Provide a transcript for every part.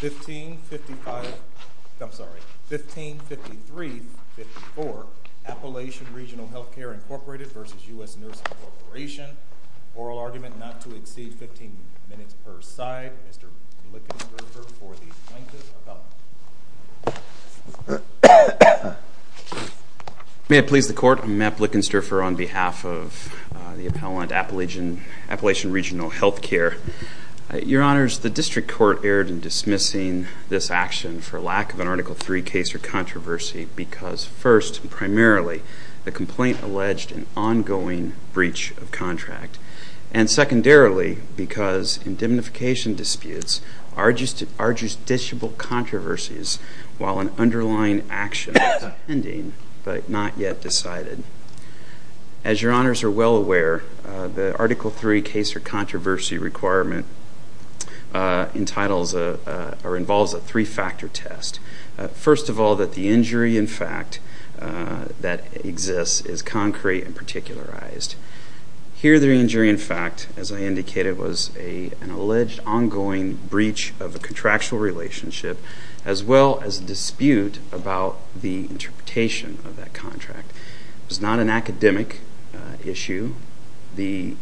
1553-54 Appalachian Regional Health Care, Inc. v. US Nursing Corp. Oral Argument Not to Exceed 15 Minutes per Side. Mr. Lickensterfer for the Plaintiff Appellant. May it please the Court, I'm Matt Lickensterfer on behalf of the Appellant Appalachian Regional Health Care. Your Honors, the District Court erred in dismissing this action for lack of an Article III case or controversy because, first, primarily, the complaint alleged an ongoing breach of contract, and secondarily, because indemnification disputes are justiciable controversies while an underlying action is pending but not yet decided. As your Honors are well aware, the Article III case or controversy requirement involves a three-factor test. First of all, that the injury in fact that exists is concrete and particularized. Here the injury in fact, as I indicated, was an alleged ongoing breach of a contractual relationship as well as a dispute about the interpretation of that contract. It was not an academic issue. The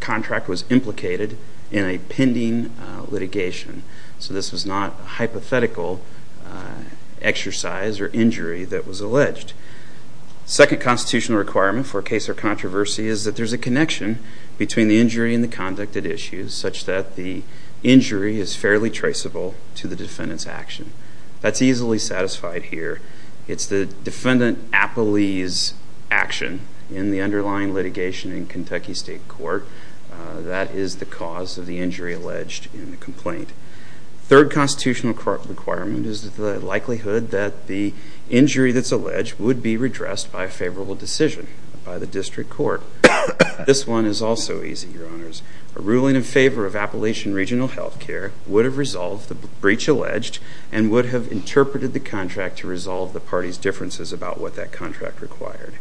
contract was implicated in a pending litigation. So this was not a hypothetical exercise or injury that was alleged. The second constitutional requirement for a case or controversy is that there's a connection between the injury and the conduct at issue such that the injury is fairly traceable to the defendant's action. That's easily satisfied here. It's the defendant Appalee's action in the underlying litigation in Kentucky State Court that is the cause of the injury alleged in the complaint. Third constitutional requirement is the likelihood that the injury that's alleged would be redressed by a favorable decision by the District Court. This one is also easy, Your Honors. A ruling in favor of Appalachian Regional Healthcare would have resolved the breach alleged and would have interpreted the contract to resolve the party's differences about what that contract required.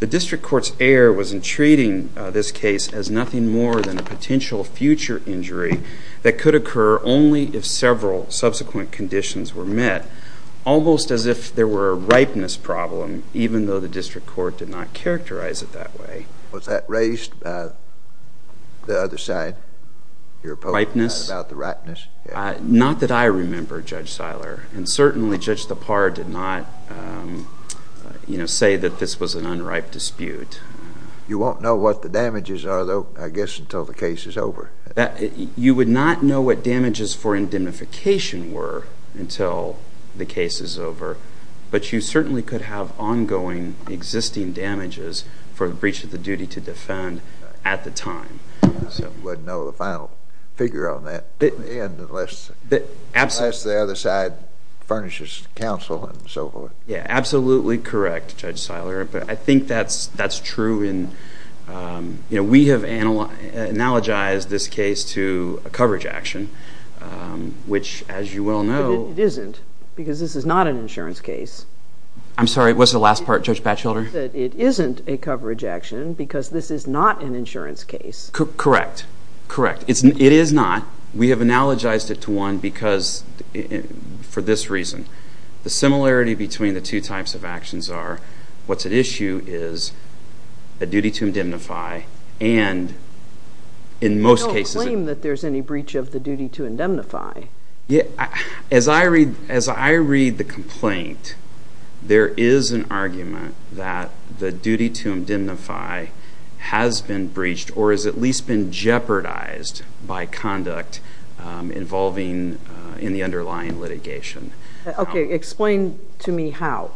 The District Court's error was in treating this case as nothing more than a potential future injury that could occur only if several subsequent conditions were met, almost as if there were a ripeness problem even though the District Court did not characterize it that way. Was that raised by the other side, your opponent, about the ripeness? Not that I remember, Judge Seiler. And certainly Judge Thapar did not say that this was an unripe dispute. You won't know what the damages are though, I guess, until the case is over. You would not know what damages for indemnification were until the case is over. But you certainly could have ongoing existing damages for the breach of the duty to defend at the time. You wouldn't know the final figure on that unless the other side furnishes counsel and so forth. Yeah, absolutely correct, Judge Seiler. But I think that's true. We have analogized this case to a coverage action, which as you well know... But it isn't, because this is not an insurance case. I'm sorry, what's the last part, Judge Batchelder? That it isn't a coverage action because this is not an insurance case. Correct, correct. It is not. We have analogized it to one because, for this reason, the similarity between the two types of actions are what's at issue is a duty to indemnify and in most cases... You don't claim that there's any breach of the duty to indemnify. As I read the complaint, there is an argument that the duty to indemnify has been breached or has at least been jeopardized by conduct involving in the underlying litigation. Explain to me how.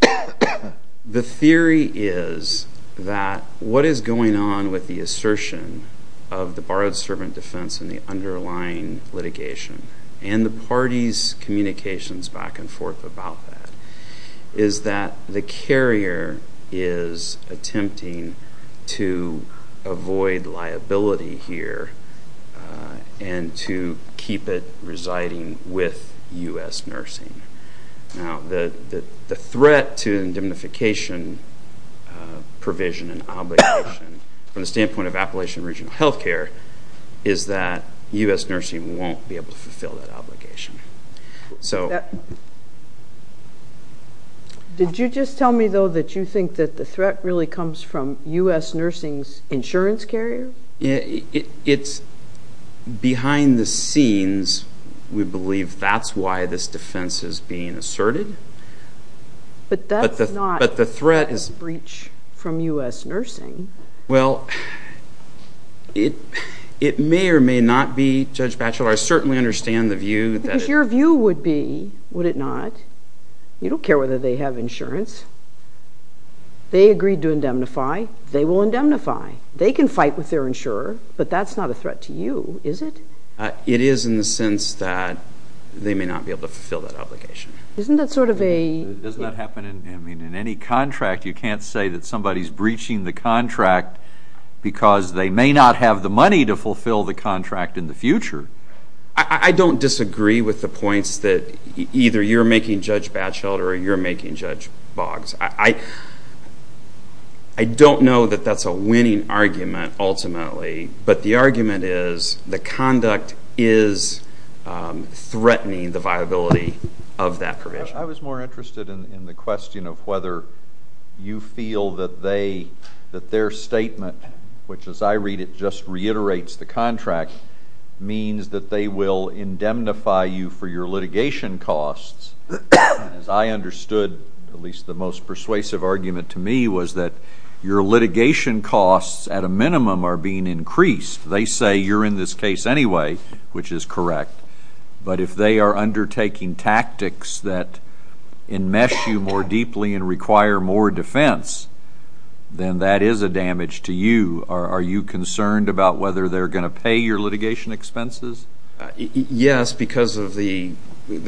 The theory is that what is going on with the assertion of the borrowed servant defense in the underlying litigation and the party's communications back and forth about that is that the carrier is attempting to avoid liability here and to keep it residing with U.S. Nursing. Now, the threat to indemnification provision and obligation from the standpoint of Appalachian Regional Health Care is that U.S. Nursing won't be able to fulfill that obligation. Did you just tell me, though, that you think that the threat really comes from U.S. Nursing's insurance carrier? It's behind the scenes. We believe that the carrier is behind the scenes. We believe that's why this defense is being asserted. But that's not a breach from U.S. Nursing. Well, it may or may not be, Judge Batchelor. I certainly understand the view. Because your view would be, would it not, you don't care whether they have insurance. They agreed to indemnify. They will indemnify. They can fight with their own. Is it? It is in the sense that they may not be able to fulfill that obligation. Isn't that sort of a... Doesn't that happen in any contract? You can't say that somebody's breaching the contract because they may not have the money to fulfill the contract in the future. I don't disagree with the points that either you're making, Judge Batchelor, or you're making, Judge Boggs. I don't know that that's a winning argument, ultimately. But the argument is, the conduct is threatening the viability of that provision. I was more interested in the question of whether you feel that they, that their statement, which as I read it just reiterates the contract, means that they will indemnify you for your litigation costs. As I understood, at least the most persuasive argument to me was that your litigation costs, at a minimum, are being increased. They say you're in this case anyway, which is correct. But if they are undertaking tactics that enmesh you more deeply and require more defense, then that is a damage to you. Are you concerned about whether they're going to pay your litigation expenses? Yes, because of the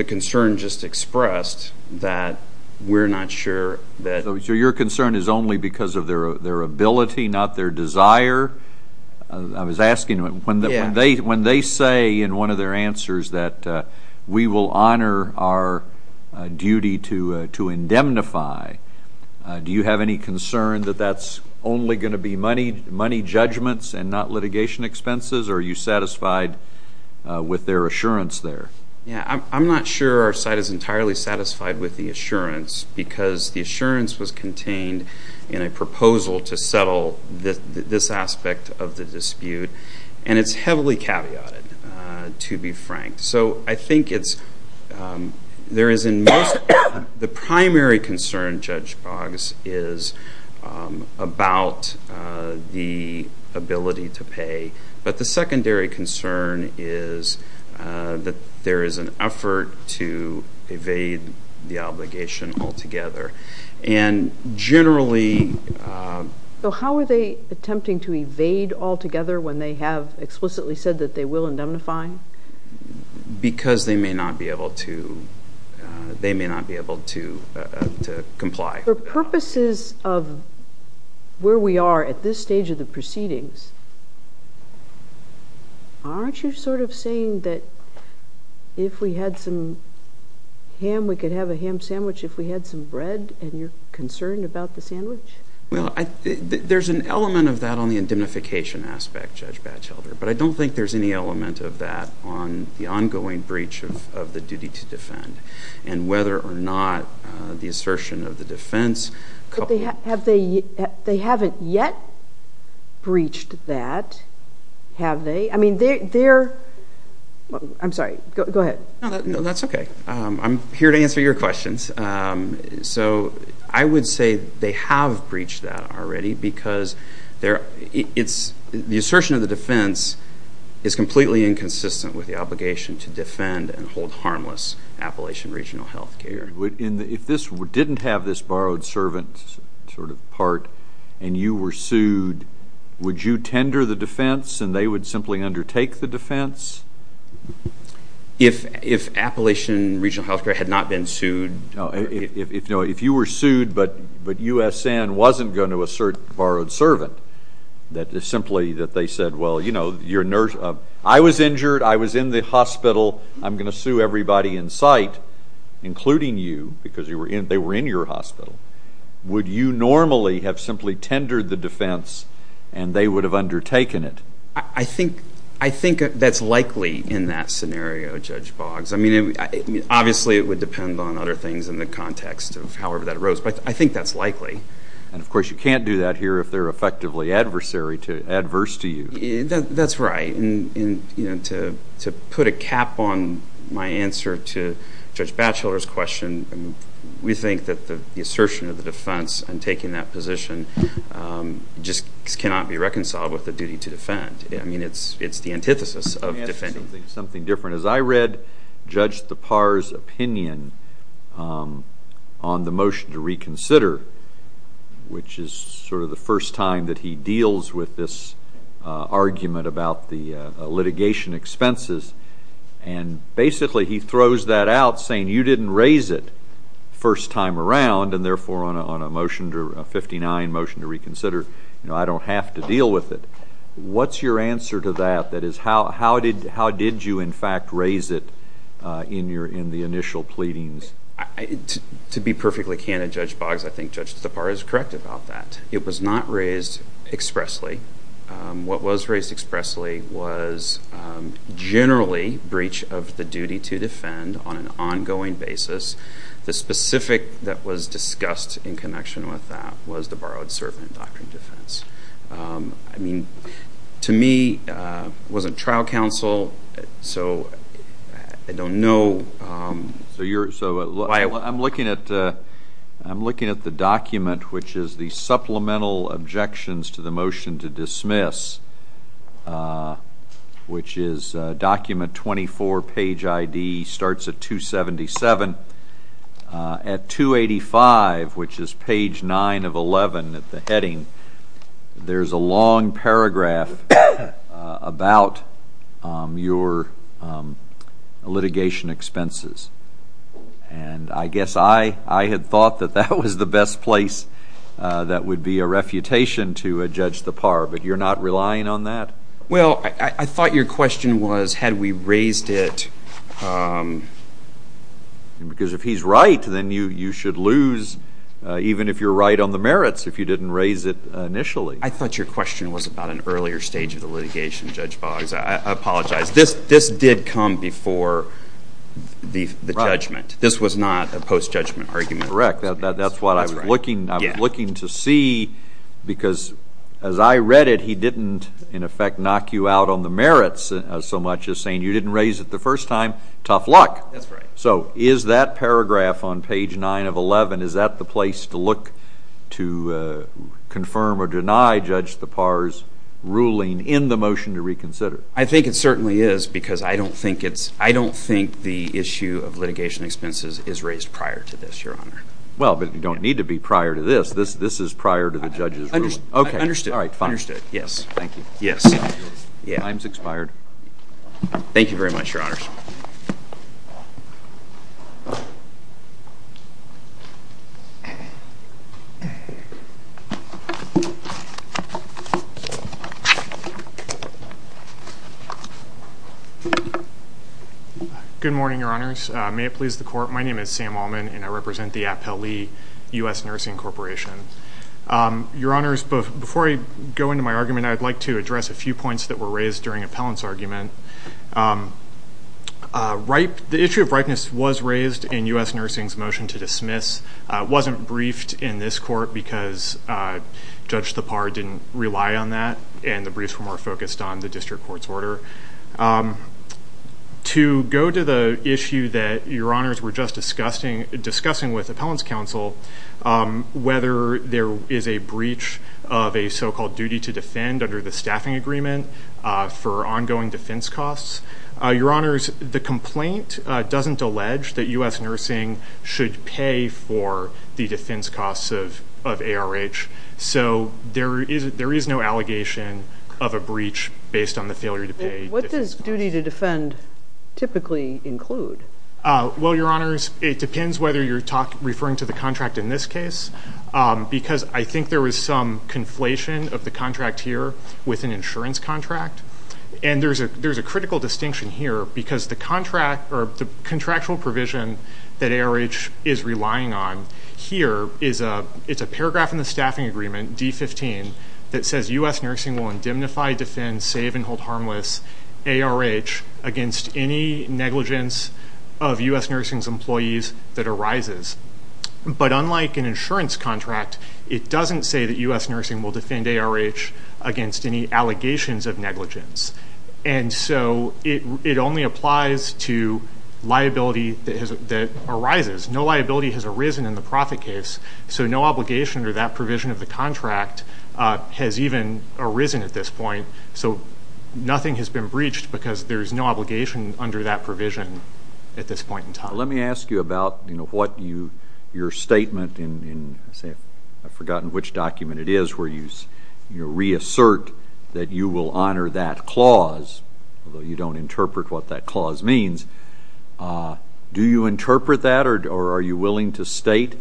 concern just expressed that we're not sure that. So your concern is only because of their ability, not their desire? I was asking when they say in one of their answers that we will honor our duty to indemnify, do you have any concern that that's only going to be money judgments and not litigation expenses? Or are you satisfied with their assurance there? Yeah, I'm not sure our side is entirely satisfied with the assurance, because the assurance was contained in a proposal to settle this aspect of the dispute. And it's heavily caveated, to be frank. So I think it's, there is in most, the primary concern, Judge Boggs, is about the ability to pay. But the secondary concern is that they're going to pay there is an effort to evade the obligation altogether. And generally... So how are they attempting to evade altogether when they have explicitly said that they will indemnify? Because they may not be able to, they may not be able to comply. For purposes of where we are at this stage of the proceedings, aren't you sort of saying that if we had some ham, we could have a ham sandwich if we had some bread, and you're concerned about the sandwich? Well, there's an element of that on the indemnification aspect, Judge Batchelder. But I don't think there's any element of that on the ongoing breach of the duty to defend. And whether or not the assertion of the defense... Well, they haven't yet breached that, have they? I mean, they're... I'm sorry, go ahead. No, that's okay. I'm here to answer your questions. So I would say they have breached that already because the assertion of the defense is completely inconsistent with the obligation to defend and hold harmless Appalachian Regional Health Care. If this didn't have this borrowed servant sort of part, and you were sued, would you tender the defense, and they would simply undertake the defense? If Appalachian Regional Health Care had not been sued... No, if you were sued, but USN wasn't going to assert borrowed servant, that is simply that they said, well, you know, I was injured, I was in the hospital, I'm going to sue everybody in sight, including you, because they were in your hospital, would you normally have simply tendered the defense, and they would have undertaken it? I think that's likely in that scenario, Judge Boggs. I mean, obviously, it would depend on other things in the context of however that arose, but I think that's likely. And, of course, you can't do that here if they're effectively adverse to you. That's right, and, you know, to put a cap on my answer to Judge Batchelor's question, we think that the assertion of the defense and taking that position just cannot be reconciled with the duty to defend. I mean, it's the antithesis of defending. Something different. As I read Judge Thapar's opinion on the motion to reconsider, which is sort of the first time that he deals with this argument about the litigation expenses, and basically he throws that out, saying you didn't raise it first time around, and therefore on a motion, a 59 motion to reconsider, you know, I don't have to deal with it. What's your answer to that? That is, how did you, in fact, raise it in the initial pleadings? To be perfectly candid, Judge Boggs, I think Judge Thapar is correct about that. It was not raised expressly. What was raised expressly was generally breach of the duty to defend on an ongoing basis. The specific that was discussed in connection with that was the borrowed servant doctrine defense. I mean, to me, it wasn't trial counsel, so I don't know. So I'm looking at the document, which is the supplemental objections to the motion to dismiss, which is document 24, page ID, starts at 277. At 285, which is page 9 of 11, at the heading, there's a long paragraph about your litigation expenses, and I guess I had thought that that was the best place that would be a refutation to Judge Thapar, but you're not relying on that? Well, I thought your question was, had we raised it? Because if he's right, then you should lose, even if you're right on the merits, if you didn't raise it initially. I thought your question was about an earlier stage of the litigation, Judge Boggs. I apologize. This did come before the judgment. This was not a post-judgment argument. Correct. That's what I was looking to see, because as I read it, he didn't, in effect, knock you out on the merits so much as saying, you didn't raise it the first time. Tough luck. So is that paragraph on page 9 of 11, is that the place to look to confirm or deny Judge Thapar's ruling in the motion to reconsider? I think it certainly is, because I don't think the issue of litigation expenses is raised prior to this, Your Honor. Well, but you don't need to be prior to this. This is prior to the judge's ruling. OK, understood. All right, fine. Understood, yes. Thank you. Yes. Time's expired. Thank you very much, Your Honors. Good morning, Your Honors. May it please the Court, my name is Sam Allman, and I represent the Appellee U.S. Nursing Corporation. Your Honors, before I go into my argument, I'd like to address a few points that were raised during Appellant's argument. The issue of ripeness was raised in U.S. Nursing's motion to dismiss. It wasn't briefed in this court, because Judge Thapar didn't rely on that, and the briefs were more focused on the district court's work. To go to the issue that Your Honors were just discussing with Appellant's counsel, whether there is a breach of a so-called duty to defend under the staffing agreement for ongoing defense costs, Your Honors, the complaint doesn't allege that U.S. Nursing should pay for the defense costs of ARH, so there is no allegation of a breach based on the failure to pay defense costs. What does duty to defend typically include? Well, Your Honors, it depends whether you're referring to the contract in this case, because I think there was some conflation of the contract here with an insurance contract, and there's a critical distinction here, because the contractual provision that ARH is relying on here is a paragraph in the staffing agreement, D-15, that says U.S. Nursing will indemnify, defend, save, and hold harmless ARH against any negligence of U.S. Nursing's employees that arises. But unlike an insurance contract, it doesn't say that U.S. Nursing will defend ARH against any allegations of negligence, and so it only applies to liability that arises. No liability has arisen in the profit case, so no obligation under that provision of the contract has even arisen at this point. So nothing has been breached because there is no obligation under that provision at this point in time. Let me ask you about your statement in, I've forgotten which document it is, where you reassert that you will honor that clause, although you don't interpret what that clause means. Do you interpret that, or are you willing to state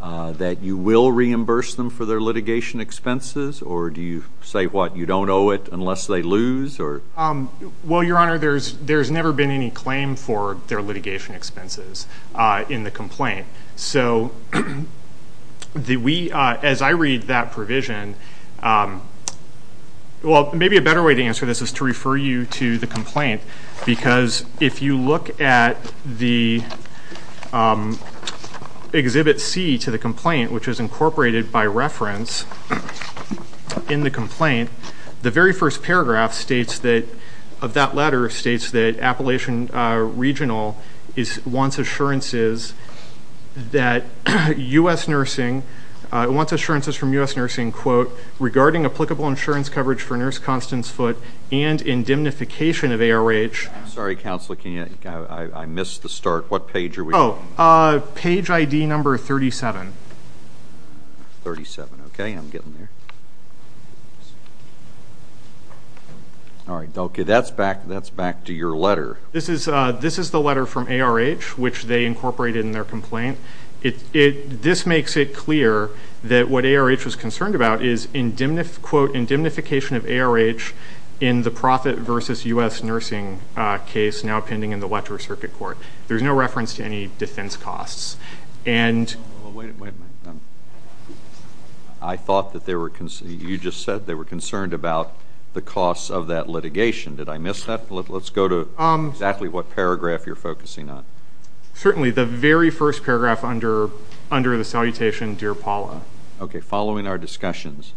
that you will reimburse them for their litigation expenses? Or do you say, what, you don't owe it unless they lose? Well, Your Honor, there's never been any claim for their litigation expenses in the complaint. So as I read that provision, well, maybe a better way to answer this is to refer you to the complaint, because if you look at the Exhibit C to the complaint, which is incorporated by reference in the complaint, the very first paragraph of that letter states that Appalachian Regional wants assurances from U.S. Nursing, regarding applicable insurance coverage for Nurse Constance Foote and indemnification of ARH. Sorry, Counselor, I missed the start. What page are we on? Page ID number 37. 37, okay, I'm getting there. All right, that's back to your letter. This is the letter from ARH, which they incorporated in their complaint. This makes it clear that what ARH was concerned about is, quote, indemnification of ARH in the Profit v. U.S. Nursing case now pending in the Electoral Circuit Court. There's no reference to any defense costs. I thought that they were concerned. You just said they were concerned about the costs of that litigation. Did I miss that? Let's go to exactly what paragraph you're focusing on. Certainly the very first paragraph under the salutation, Dear Paula. Okay, following our discussions.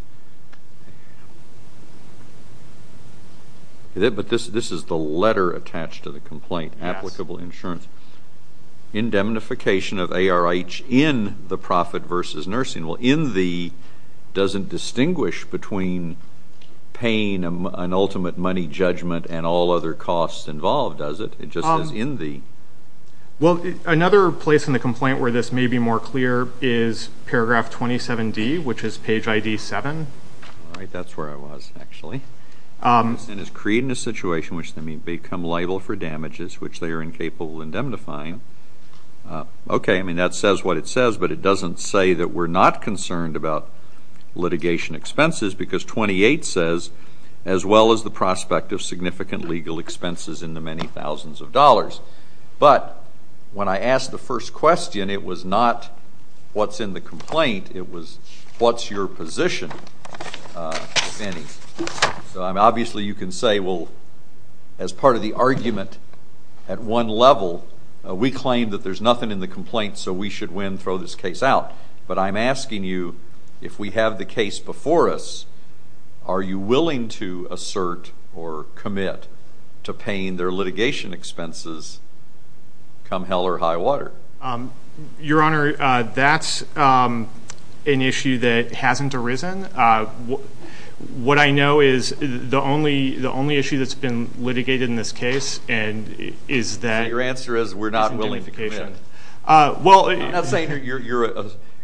But this is the letter attached to the complaint, applicable insurance. Indemnification of ARH in the Profit v. Nursing. Well, in the doesn't distinguish between paying an ultimate money judgment and all other costs involved, does it? It just is in the. Well, another place in the complaint where this may be more clear is paragraph 27D, which is page ID 7. All right, that's where I was, actually. And it's creating a situation in which they may become liable for damages, which they are incapable of indemnifying. Okay, I mean, that says what it says, but it doesn't say that we're not concerned about litigation expenses, because 28 says, as well as the prospect of significant legal expenses in the many thousands of dollars. But when I asked the first question, it was not what's in the complaint. It was what's your position, if any. So obviously you can say, well, as part of the argument at one level, we claim that there's nothing in the complaint, so we should win, throw this case out. But I'm asking you, if we have the case before us, are you willing to assert or commit to paying their litigation expenses come hell or high water? Your Honor, that's an issue that hasn't arisen. What I know is the only issue that's been litigated in this case is that there's indemnification. So your answer is we're not willing to commit. Well, I'm not saying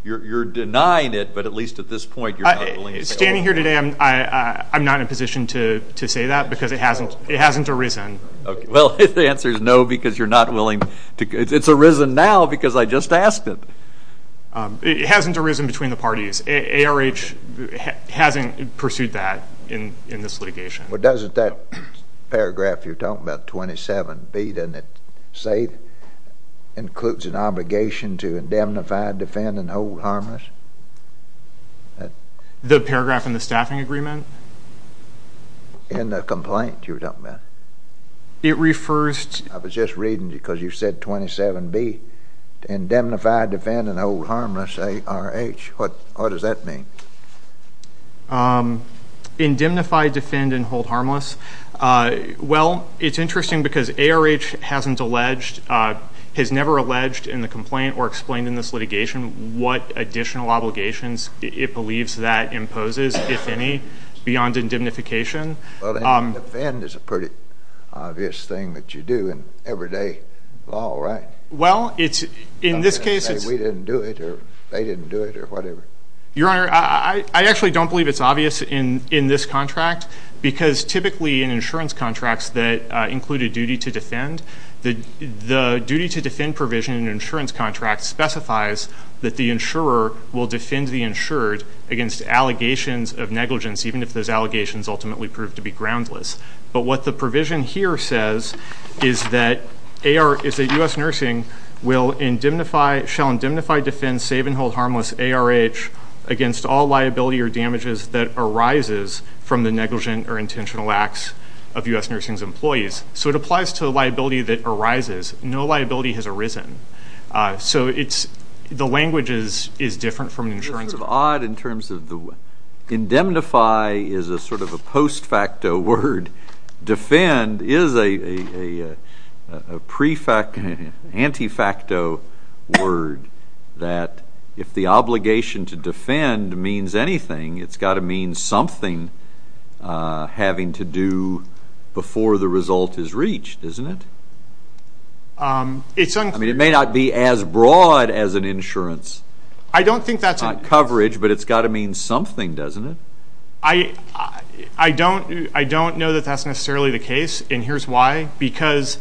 you're denying it, but at least at this point you're not willing to pay. Standing here today, I'm not in a position to say that, because it hasn't arisen. Well, the answer is no, because you're not willing to. It's arisen now because I just asked it. It hasn't arisen between the parties. ARH hasn't pursued that in this litigation. Well, doesn't that paragraph you're talking about, 27B, doesn't it say includes an obligation to indemnify, defend, and hold harmless? The paragraph in the staffing agreement? In the complaint you were talking about. It refers to the paragraph. I was just reading, because you said 27B, indemnify, defend, and hold harmless, ARH. What does that mean? Indemnify, defend, and hold harmless. Well, it's interesting because ARH hasn't alleged, has never alleged in the complaint or explained in this litigation what additional obligations it believes that imposes, if any, beyond indemnification. Well, and defend is a pretty obvious thing that you do in everyday law, right? Well, in this case it's – We didn't do it, or they didn't do it, or whatever. Your Honor, I actually don't believe it's obvious in this contract, because typically in insurance contracts that include a duty to defend, the duty to defend provision in an insurance contract specifies that the insurer will defend the insured against allegations of negligence, even if those allegations ultimately prove to be groundless. But what the provision here says is that U.S. Nursing will indemnify, shall indemnify, defend, save, and hold harmless ARH against all liability or damages that arises from the negligent or intentional acts of U.S. Nursing's employees. So it applies to the liability that arises. No liability has arisen. So it's – the language is different from an insurance contract. It's sort of odd in terms of the – indemnify is a sort of a post facto word. Defend is a pre facto, anti facto word that if the obligation to defend means anything, it's got to mean something having to do before the result is reached, isn't it? It's unclear. I mean, it may not be as broad as an insurance coverage, but it's got to mean something, doesn't it? I don't know that that's necessarily the case, and here's why. Because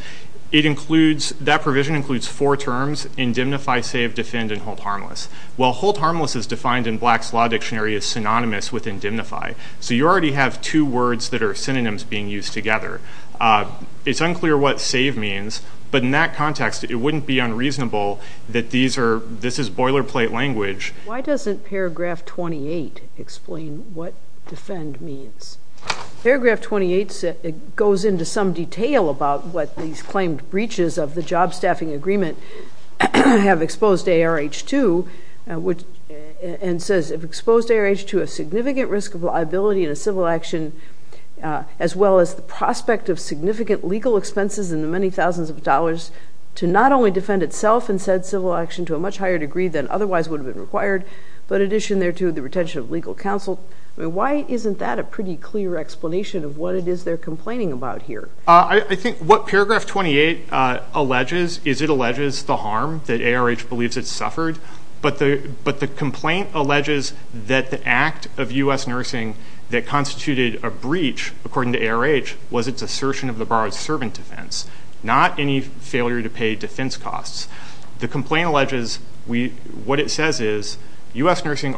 it includes – that provision includes four terms, indemnify, save, defend, and hold harmless. Well, hold harmless is defined in Black's Law Dictionary as synonymous with indemnify. So you already have two words that are synonyms being used together. It's unclear what save means, but in that context, it wouldn't be unreasonable that these are – this is boilerplate language. Why doesn't paragraph 28 explain what defend means? Paragraph 28 goes into some detail about what these claimed breaches of the job staffing agreement have exposed ARH2 and says, have exposed ARH2 a significant risk of liability in a civil action, as well as the prospect of significant legal expenses in the many thousands of dollars to not only defend itself in said civil action to a much higher degree than otherwise would have been required, but addition there to the retention of legal counsel. I mean, why isn't that a pretty clear explanation of what it is they're complaining about here? I think what paragraph 28 alleges is it alleges the harm that ARH believes it suffered, but the complaint alleges that the act of U.S. nursing that constituted a breach, according to ARH, was its assertion of the borrowed servant defense, not any failure to pay defense costs. The complaint alleges what it says is U.S. nursing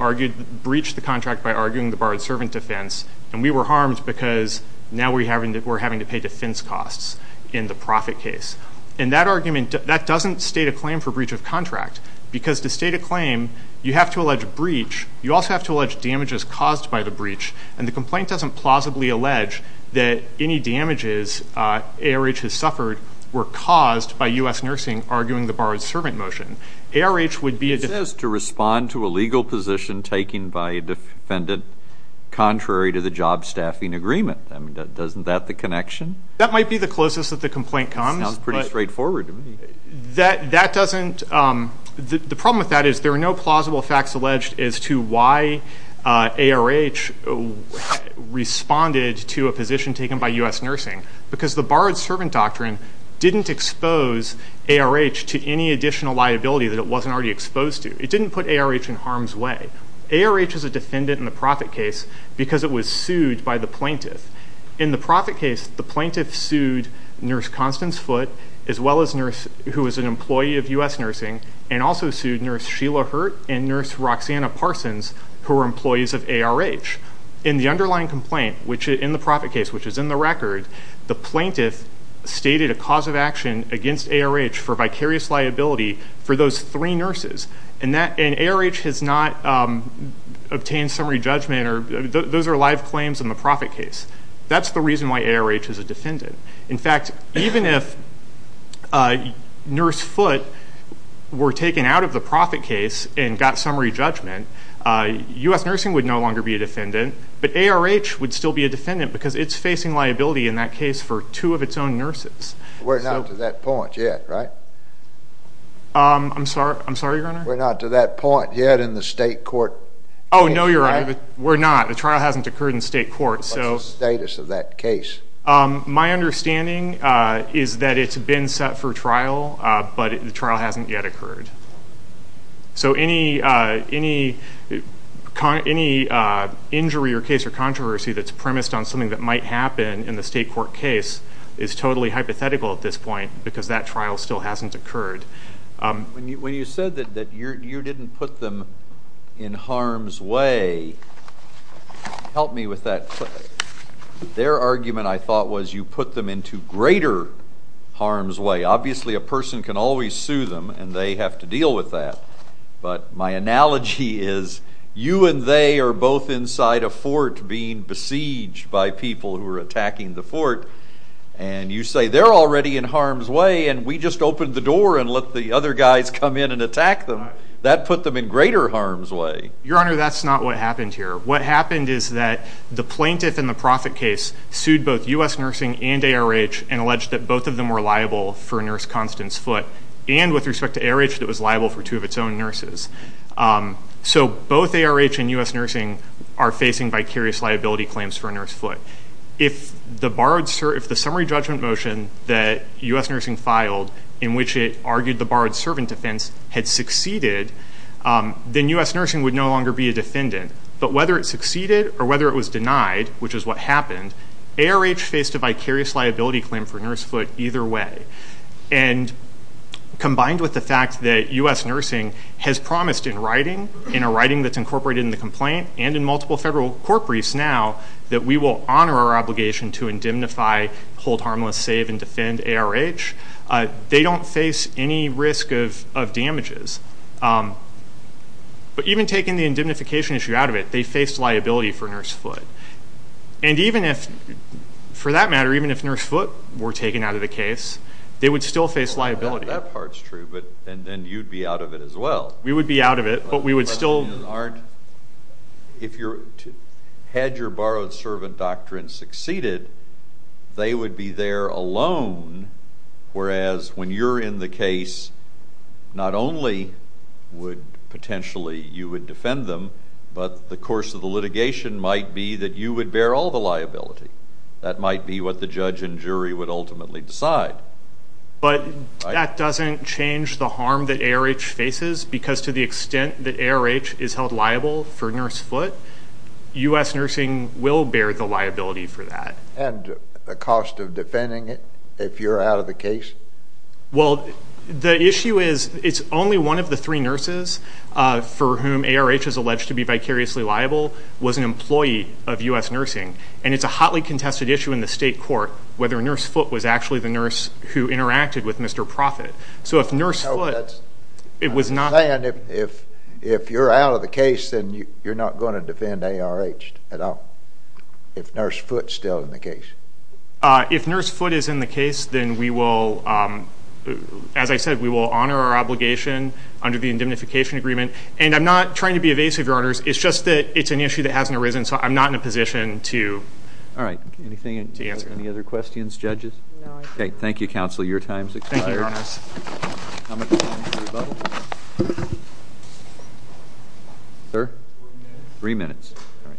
breached the contract by arguing the borrowed servant defense, and we were harmed because now we're having to pay defense costs in the profit case. And that argument, that doesn't state a claim for breach of contract, because to state a claim you have to allege a breach. You also have to allege damages caused by the breach, and the complaint doesn't plausibly allege that any damages ARH has suffered were caused by U.S. nursing arguing the borrowed servant motion. It says to respond to a legal position taken by a defendant contrary to the job staffing agreement. I mean, isn't that the connection? That might be the closest that the complaint comes. It sounds pretty straightforward to me. The problem with that is there are no plausible facts alleged as to why ARH responded to a position taken by U.S. nursing, because the borrowed servant doctrine didn't expose ARH to any additional liability that it wasn't already exposed to. It didn't put ARH in harm's way. ARH is a defendant in the profit case because it was sued by the plaintiff. In the profit case, the plaintiff sued Nurse Constance Foote, who was an employee of U.S. nursing, and also sued Nurse Sheila Hurt and Nurse Roxanna Parsons, who were employees of ARH. In the underlying complaint in the profit case, which is in the record, the plaintiff stated a cause of action against ARH for vicarious liability for those three nurses, and ARH has not obtained summary judgment. Those are live claims in the profit case. That's the reason why ARH is a defendant. In fact, even if Nurse Foote were taken out of the profit case and got summary judgment, U.S. nursing would no longer be a defendant, but ARH would still be a defendant because it's facing liability in that case for two of its own nurses. We're not to that point yet, right? I'm sorry, Your Honor? We're not to that point yet in the state court case, right? Oh, no, Your Honor, we're not. The trial hasn't occurred in state court. What's the status of that case? My understanding is that it's been set for trial, but the trial hasn't yet occurred. So any injury or case or controversy that's premised on something that might happen in the state court case is totally hypothetical at this point because that trial still hasn't occurred. When you said that you didn't put them in harm's way, help me with that. Their argument, I thought, was you put them into greater harm's way. Obviously, a person can always sue them, and they have to deal with that, but my analogy is you and they are both inside a fort being besieged by people who are attacking the fort, and you say they're already in harm's way, and we just opened the door and let the other guys come in and attack them. That put them in greater harm's way. Your Honor, that's not what happened here. What happened is that the plaintiff in the profit case sued both U.S. nursing and ARH and alleged that both of them were liable for Nurse Constance Foote and with respect to ARH that was liable for two of its own nurses. So both ARH and U.S. nursing are facing vicarious liability claims for Nurse Foote. If the summary judgment motion that U.S. nursing filed in which it argued the borrowed servant defense had succeeded, then U.S. nursing would no longer be a defendant. But whether it succeeded or whether it was denied, which is what happened, ARH faced a vicarious liability claim for Nurse Foote either way. And combined with the fact that U.S. nursing has promised in writing, in a writing that's incorporated in the complaint and in multiple federal court briefs now, that we will honor our obligation to indemnify, hold harmless, save, and defend ARH, they don't face any risk of damages. But even taking the indemnification issue out of it, they faced liability for Nurse Foote. And even if, for that matter, even if Nurse Foote were taken out of the case, they would still face liability. That part's true, but then you'd be out of it as well. We would be out of it, but we would still... If you had your borrowed servant doctrine succeeded, they would be there alone, whereas when you're in the case, not only would potentially you defend them, but the course of the litigation might be that you would bear all the liability. That might be what the judge and jury would ultimately decide. But that doesn't change the harm that ARH faces, because to the extent that ARH is held liable for Nurse Foote, U.S. nursing will bear the liability for that. And the cost of defending it if you're out of the case? Well, the issue is it's only one of the three nurses for whom ARH is alleged to be vicariously liable was an employee of U.S. nursing, and it's a hotly contested issue in the state court whether Nurse Foote was actually the nurse who interacted with Mr. Profitt. So if Nurse Foote... I'm saying if you're out of the case, then you're not going to defend ARH at all, if Nurse Foote's still in the case. If Nurse Foote is in the case, then we will, as I said, we will honor our obligation under the indemnification agreement. And I'm not trying to be evasive, Your Honors. It's just that it's an issue that hasn't arisen, so I'm not in a position to answer. All right. Any other questions, judges? No. Okay. Thank you, counsel. Your time is expired. Thank you, Your Honors. Sir? Three minutes. All right.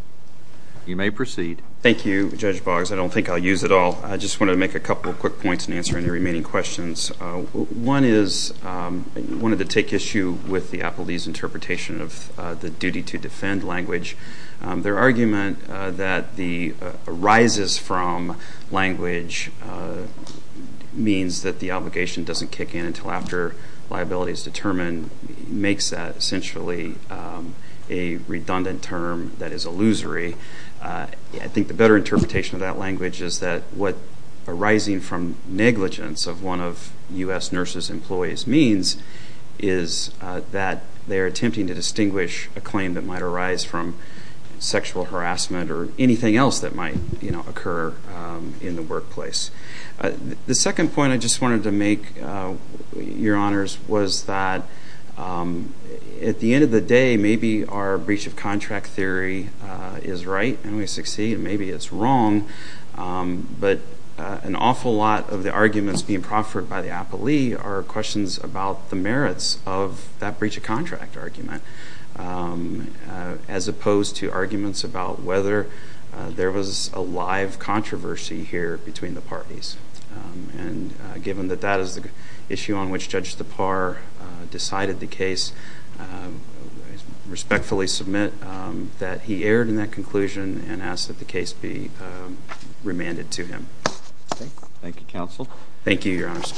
You may proceed. Thank you, Judge Boggs. I don't think I'll use it all. I just wanted to make a couple of quick points in answering the remaining questions. One is I wanted to take issue with the appellee's interpretation of the duty to defend language. Their argument that the arises from language means that the obligation doesn't kick in until after liability is determined makes that essentially a redundant term that is illusory. I think the better interpretation of that language is that what arising from negligence of one of U.S. nurses' employees means is that they're attempting to distinguish a claim that might arise from sexual harassment or anything else that might occur in the workplace. The second point I just wanted to make, Your Honors, was that at the end of the day, maybe our breach of contract theory is right and we succeed, and maybe it's wrong, but an awful lot of the arguments being proffered by the appellee are questions about the merits of that breach of contract argument as opposed to arguments about whether there was a live controversy here between the parties. Given that that is the issue on which Judge Tappar decided the case, I respectfully submit that he erred in that conclusion and ask that the case be remanded to him. Thank you, Counsel. Thank you, Your Honors.